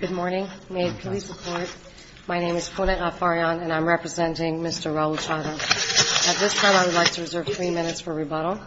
Good morning. May it please the Court, my name is Puneet Afaryan and I'm representing Mr. Raul Chadha. At this time I would like to reserve three minutes for rebuttal.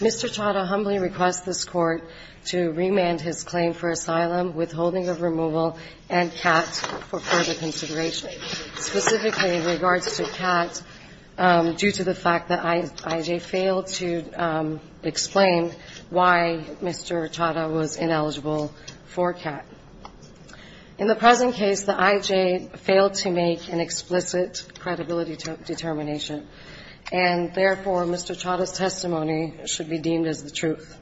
Mr. Chadha humbly requests this Court to remand his claim for asylum, withholding of removal, and CAT for further consideration. Specifically in regards to CAT, due to the fact that IJ failed to explain why Mr. Chadha was ineligible for CAT. In the present case, the IJ failed to make an explicit credibility determination. And therefore, Mr. Chadha's testimony should be deemed as the truth.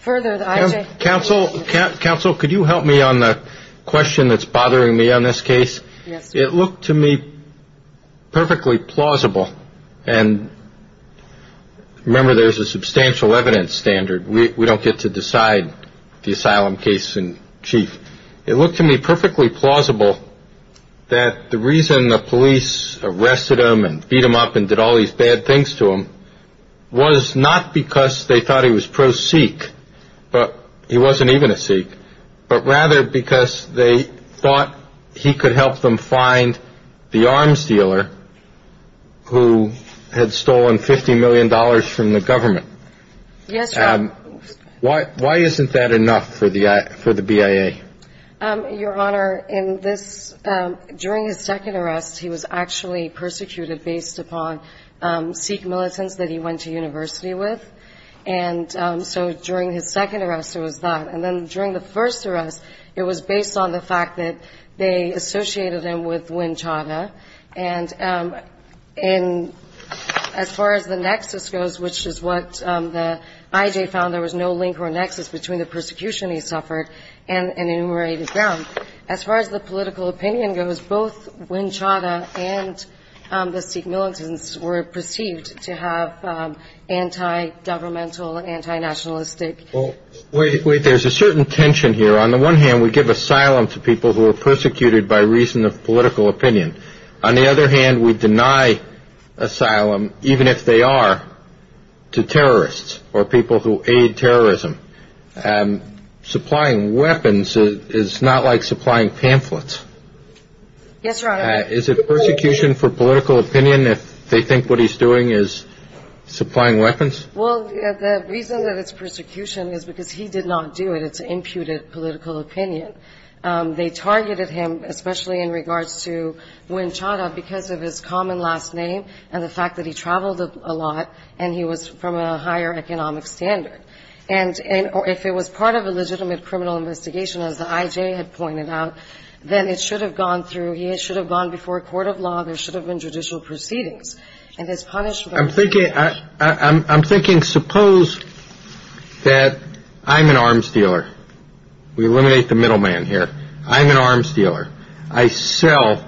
Further, the IJ... Judge Goldberg Counsel, counsel, could you help me on the Puneet Afaryan Yes. It looked to me perfectly plausible, and remember there's a substantial evidence standard, we don't get to decide the asylum case in chief. It looked to me perfectly plausible that the reason the police arrested him and beat him up and did all these bad things to him was not because they thought he was pro-Sikh, but he wasn't even a Sikh, but rather because they thought he could help them find the arms dealer who had stolen $50 million from the government. Yes, Your Honor. Why isn't that enough for the BIA? Your Honor, in this, during his second arrest, he was actually persecuted based upon Sikh militants that he went to university with. And so during his second arrest, it was that. And then during the first arrest, it was based on the fact that they associated him with Win Chadha. And as far as the nexus goes, which is what the IJ found, there was no link or nexus between the persecution he suffered and enumerated ground. As far as the political opinion goes, both Win Chadha and the Sikh militants were perceived to have anti-governmental, anti-nationalistic... Well, wait, there's a certain tension here. On the one hand, we give asylum to people who are persecuted by reason of political opinion. On the other hand, we deny asylum, even if they are to terrorists or people who aid terrorism. Supplying weapons is not like supplying pamphlets. Yes, Your Honor. Is it persecution for political opinion if they think what he's doing is supplying weapons? Well, the reason that it's persecution is because he did not do it. It's an imputed political opinion. They targeted him, especially in regards to Win Chadha, because of his common last name and the fact that he traveled a lot and he was from a higher economic standard. And if it was part of a legitimate criminal investigation, as the IJ had pointed out, then it should have gone through, he should have gone before a court of law, there should have been judicial proceedings. And his punishment... I'm thinking, suppose that I'm an arms dealer. We eliminate the middleman here. I'm an arms dealer. I sell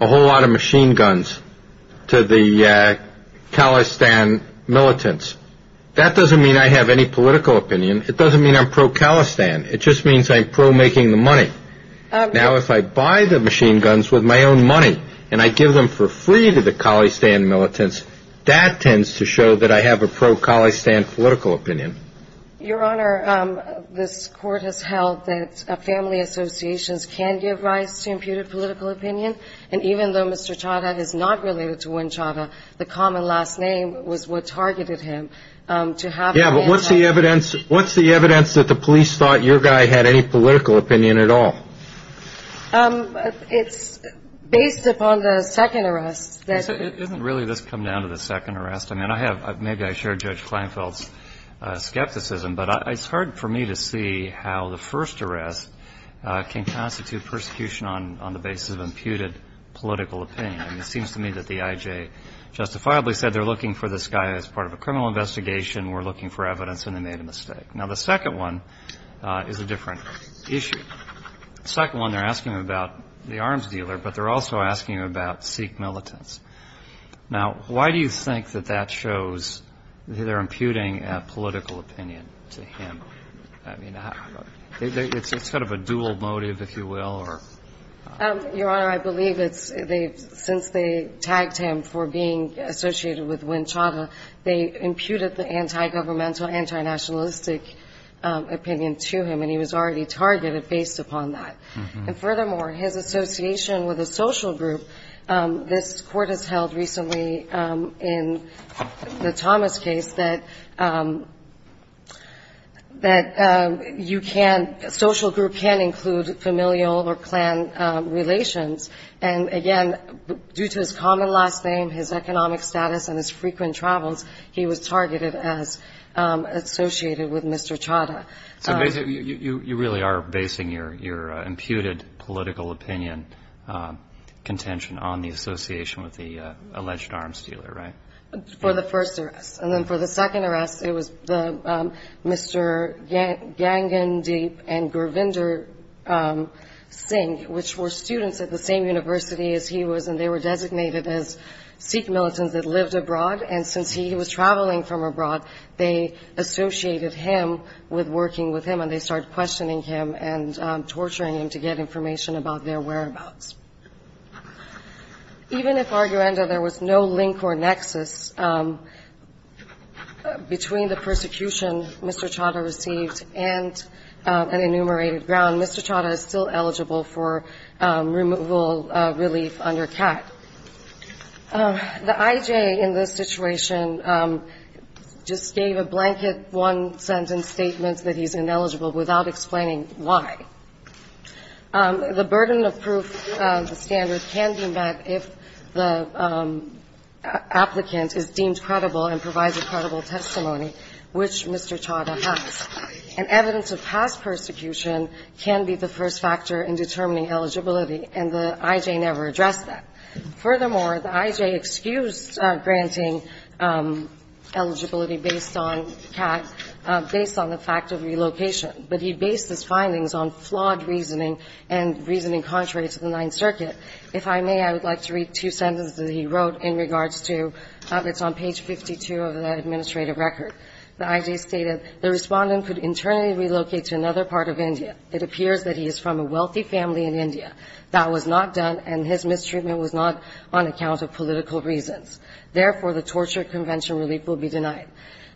a whole lot of machine guns to the Kalistan militants. That doesn't mean I have any political opinion. It doesn't mean I'm pro-Kalistan. It just means I'm pro-making the money. Now, if I buy the machine guns with my own money and I give them for free to the Kalistan militants, that tends to show that I have a pro-Kalistan political opinion. Your Honor, this court has held that family associations can give rise to imputed political opinion. And even though Mr. Chadha is not related to Win Chadha, the common last name was what targeted him. Yeah, but what's the evidence that the police thought your guy had any political opinion at all? It's based upon the second arrest that... Isn't really this come down to the second arrest? I mean, I have – maybe I share Judge Kleinfeld's skepticism, but it's hard for me to see how the first arrest can constitute persecution on the basis of imputed political opinion. It seems to me that the I.J. justifiably said they're looking for this guy as part of a criminal investigation, we're looking for evidence, and they made a mistake. Now, the second one is a different issue. The second one, they're asking about the arms dealer, but they're also asking about Sikh militants. Now, why do you think that that shows that they're imputing a political opinion to him? I mean, it's sort of a dual motive, if you will, or... Your Honor, I believe it's – since they tagged him for being associated with Win Chadha, they imputed the anti-governmental, anti-nationalistic opinion to him, and he was already targeted based upon that. And furthermore, his association with a social group, this court has held recently in the Thomas case that you can – a social group can include familial or clan relations, and again, due to his common last name, his economic status, and his frequent travels, he was targeted as associated with Mr. Chadha. So basically, you really are basing your imputed political opinion contention on the association with the alleged arms dealer, right? For the first arrest. And then for the second arrest, it was the – Mr. Gangandeep and the same university as he was, and they were designated as Sikh militants that lived abroad, and since he was traveling from abroad, they associated him with working with him, and they started questioning him and torturing him to get information about their whereabouts. Even if, arguendo, there was no link or nexus between the persecution Mr. Chadha received and an enumerated ground, Mr. Chadha is still eligible for removal relief under CAT. The IJ in this situation just gave a blanket one-sentence statement that he's ineligible without explaining why. The burden of proof standard can be met if the applicant is deemed credible and provides a credible testimony, which Mr. Chadha has. And evidence of past persecution can be the first factor in determining eligibility, and the IJ never addressed that. Furthermore, the IJ excused granting eligibility based on CAT, based on the fact of relocation, but he based his findings on flawed reasoning and reasoning contrary to the Ninth Circuit. If I may, I would like to read two sentences that he wrote in regards to habits on page 52 of the administrative record. The IJ stated, the respondent could internally relocate to another part of India. It appears that he is from a wealthy family in India. That was not done, and his mistreatment was not on account of political reasons. Therefore, the torture convention relief will be denied.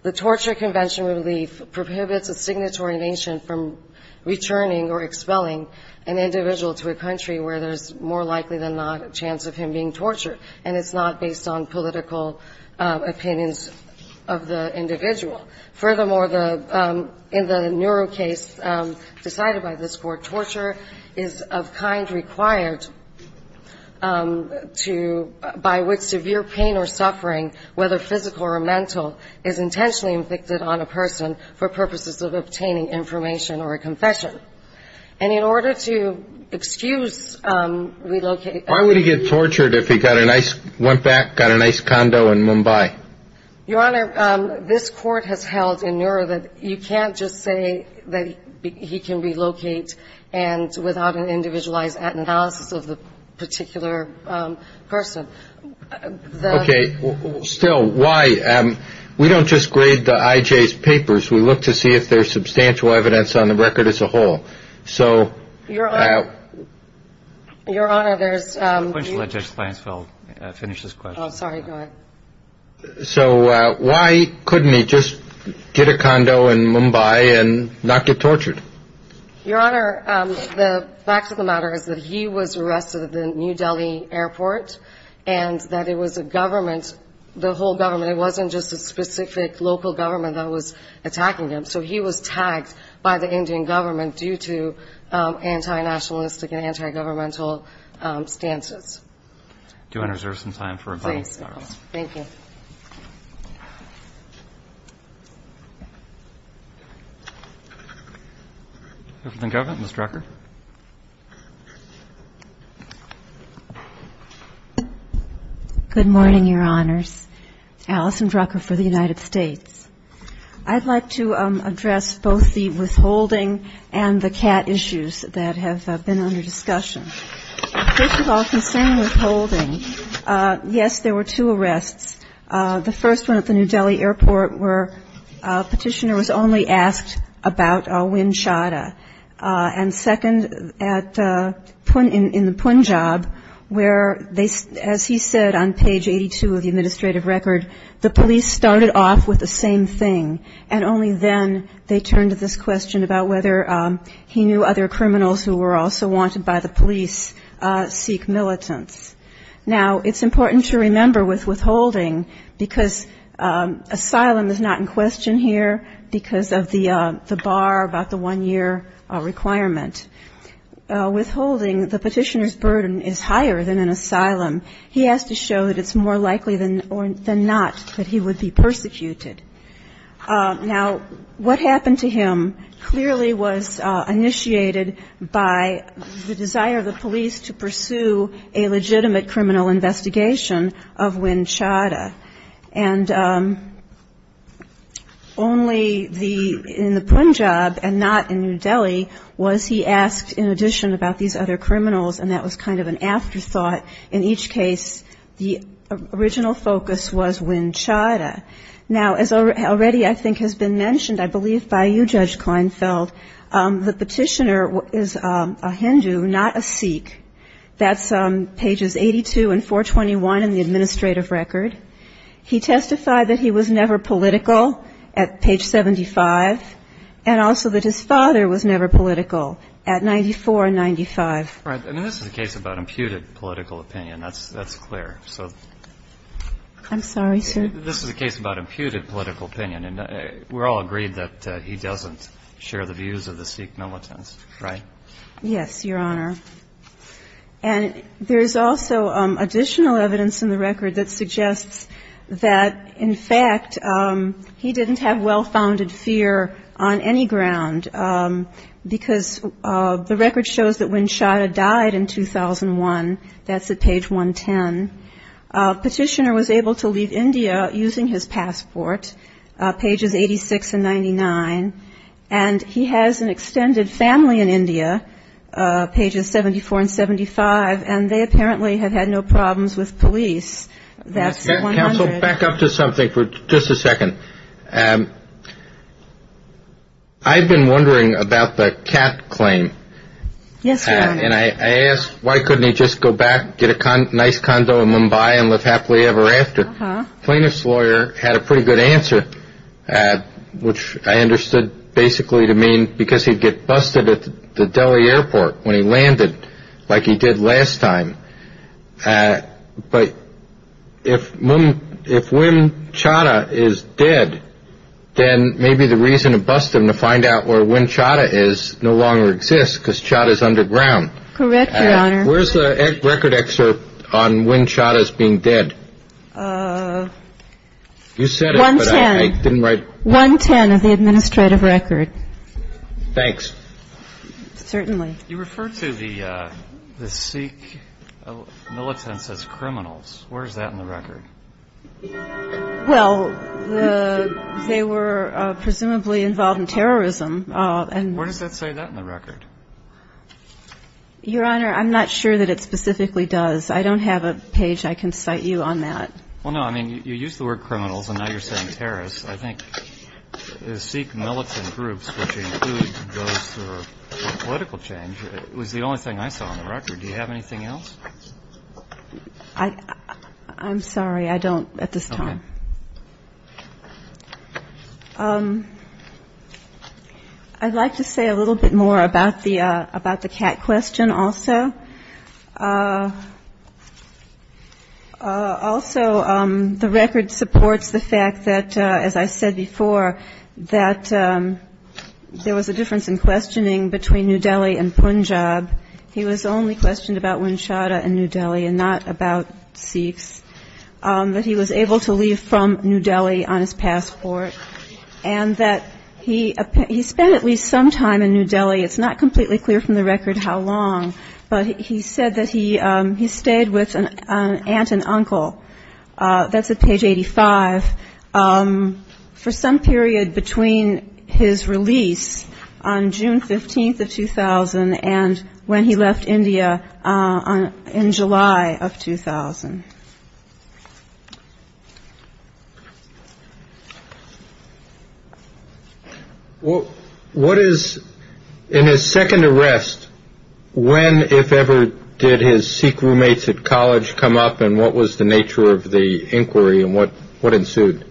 The torture convention relief prohibits a signatory nation from returning or expelling an individual to a country where there's more likely than not a chance of him being tortured, and it's not based on political opinions of the individual. Furthermore, in the Neuro case decided by this Court, torture is of kind required to, by which severe pain or suffering, whether physical or mental, is intentionally inflicted on a person for purposes of obtaining information or a confession. And in order to excuse relocation Why would he get tortured if he got a nice, went back, got a nice condo in Mumbai? Your Honor, this Court has held in Neuro that you can't just say that he can relocate and without an individualized analysis of the particular person. Okay, still, why? We don't just grade the IJ's papers. We look to see if there's substantial evidence on the record as a whole. Your Honor, there's... Why couldn't he just get a condo in Mumbai and not get tortured? Your Honor, the fact of the matter is that he was arrested at the New Delhi airport, and that it was a government, the whole government, it wasn't just a specific local government that was attacking him. So he was tagged by the Indian government due to anti-nationalistic and anti-governmental stances. Do you want to reserve some time for a comment, Your Honor? Yes. Thank you. Ms. Drucker. Good morning, Your Honors. Alison Drucker for the United States. I'd like to address both the withholding and the CAT issues that have been under discussion. First of all, concerning withholding, yes, there were two arrests. The first one at the New Delhi airport where a petitioner was only asked about a wind shada. And second, in the Punjab, where, as he said on page 82 of the administrative record, the police started off with the same thing, and only then they turned to this question about whether he knew other criminals who were also wanted by the police seek militants. Now, it's important to remember with withholding, because asylum is not in question here, because of the bar about the one-year requirement. Withholding, the petitioner's burden is higher than an asylum. He has to show that it's more likely than not that he would be persecuted. Now, what happened to him clearly was initiated by the desire of the police to pursue a legitimate criminal investigation of wind shada. And only in the Punjab and not in New Delhi was he asked in addition about these other criminals, and that was kind of an afterthought. In each case, the original focus was wind shada. Now, as already I think has been mentioned, I believe by you, Judge Kleinfeld, the petitioner is a Hindu, not a Sikh. That's pages 82 and 421 in the administrative record. He testified that he was never political at page 75, and also that his father was never political at 94 and 95. And this is a case about imputed political opinion. That's clear. So this is a case about imputed political opinion, and we're all agreed that he doesn't share the views of the Sikh militants, right? Yes, Your Honor. And there's also additional evidence in the record that suggests that, in fact, he didn't have well-founded fear on any ground, because the record shows that wind shada died in 2001. That's at page 110. Petitioner was able to leave India using his passport, pages 86 and 99, and he has an extended family in India, pages 74 and 75, and they apparently have had no problems with police. That's at 100. Counsel, back up to something for just a second. I've been wondering about the cat claim. Yes, Your Honor. And I asked, why couldn't he just go back, get a nice condo in Mumbai, and live happily ever after? The plaintiff's lawyer had a pretty good answer, which I understood basically to mean because he'd get busted at the Delhi airport when he landed, like he did last time. But if wind shada is dead, then maybe the reason to bust him to find out where wind shada is no longer exists, because shada's underground. Correct, Your Honor. Where's the record excerpt on wind shada's being dead? You said it, but I didn't write it. 110 of the administrative record. Thanks. Certainly. You referred to the Sikh militants as criminals. Where is that in the record? Well, they were presumably involved in terrorism. Where does that say that in the record? Your Honor, I'm not sure that it specifically does. I don't have a page I can cite you on that. Well, no, I mean, you used the word criminals, and now you're saying terrorists. I think the Sikh militant groups, which include those for political change, was the only thing I saw on the record. Do you have anything else? I'm sorry, I don't at this time. Okay. I'd like to say a little bit more about the cat question also. Also, the record supports the fact that, as I said before, that there was a difference in questioning between New Delhi and Punjab. He was only questioned about wind shada in New Delhi and not about Sikhs. But he was able to leave from New Delhi on his passport, and that he spent at least some time in New Delhi. It's not completely clear from the record how long, but he said that he stayed with an aunt and uncle. That's at page 85. For some period between his release on June 15th of 2000 and when he left India in July of 2000. What is, in his second arrest, when, if ever, did his Sikh roommates at college come up, and what was the nature of the inquiry, and what ensued?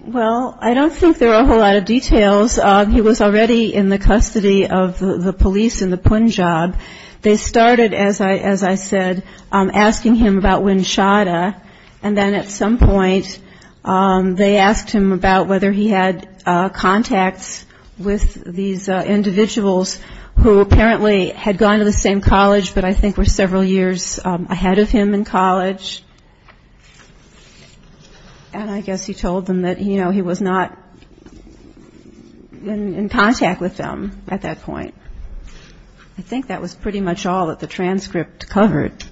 Well, I don't think there are a whole lot of details. He was already in the custody of the police in the Punjab. They started, as I said, asking him about wind shada, and then at some point they asked him about whether he had contacts with these individuals who apparently had gone to the same college, but I think were several years ahead of him in college. And I guess he told them that, you know, he was not in contact with them at that point. I think that was pretty much all that the transcript covered.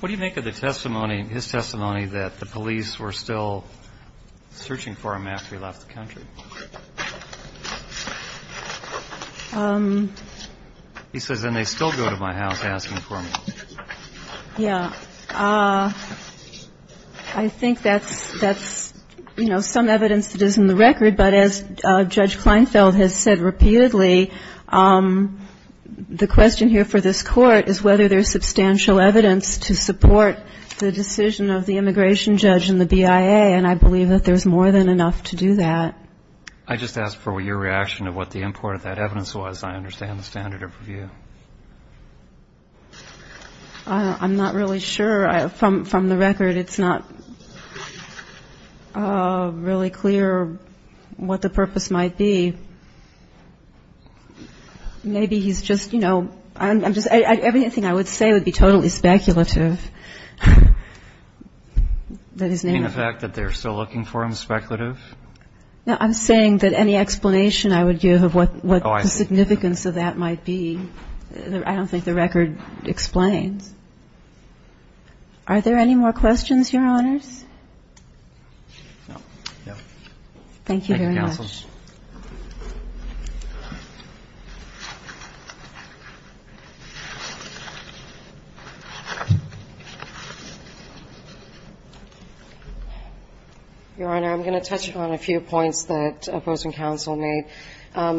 What do you make of the testimony, his testimony, that the police were still searching for him after he left the country? He says, and they still go to my house asking for me. Yeah. I think that's, you know, some evidence that is in the record, but as Judge Kleinfeld has said repeatedly, the question here for this Court is whether there is substantial evidence to support the decision of the immigration judge and the BIA, and I believe that there is more than enough to do that. I just asked for your reaction of what the import of that evidence was. I understand the standard of review. I'm not really sure. From the record, it's not really clear what the purpose might be. Maybe he's just, you know, everything I would say would be totally speculative. In the fact that they're still looking for him speculative? No, I'm saying that any explanation I would give of what the significance of that might be. I don't think the record explains. Are there any more questions, Your Honors? No. Thank you very much. Thank you, Counsel. Your Honor, I'm going to touch on a few points that opposing counsel made.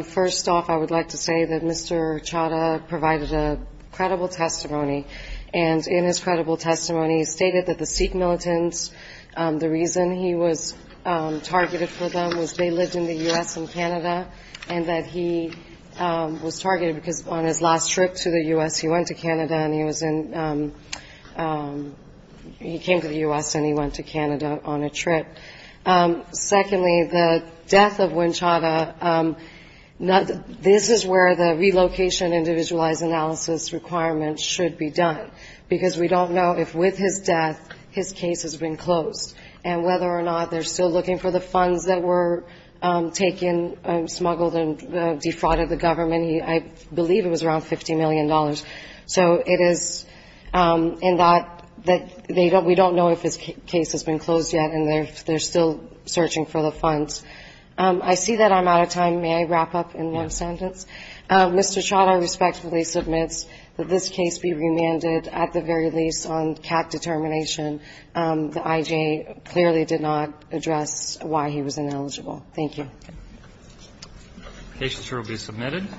First off, I would like to say that Mr. Chadha provided a credible testimony, and in his credible testimony he stated that the Sikh militants, the reason he was targeted for them was they lived in the U.S. and Canada, and that he was targeted because on his last trip to the U.S. he went to Canada, and he was in he came to the U.S. and he went to Canada on a trip. Secondly, the death of Win Chadha, this is where the relocation individualized analysis requirement should be done, because we don't know if with his death his case has been closed and whether or not they're still looking for the funds that were taken, smuggled, and defrauded the government. I believe it was around $50 million. So it is in that we don't know if his case has been closed yet and if they're still searching for the funds. I see that I'm out of time. May I wrap up in one sentence? Yes. Mr. Chadha respectfully submits that this case be remanded, at the very least on cap determination. The IJ clearly did not address why he was ineligible. Thank you. The case will be submitted.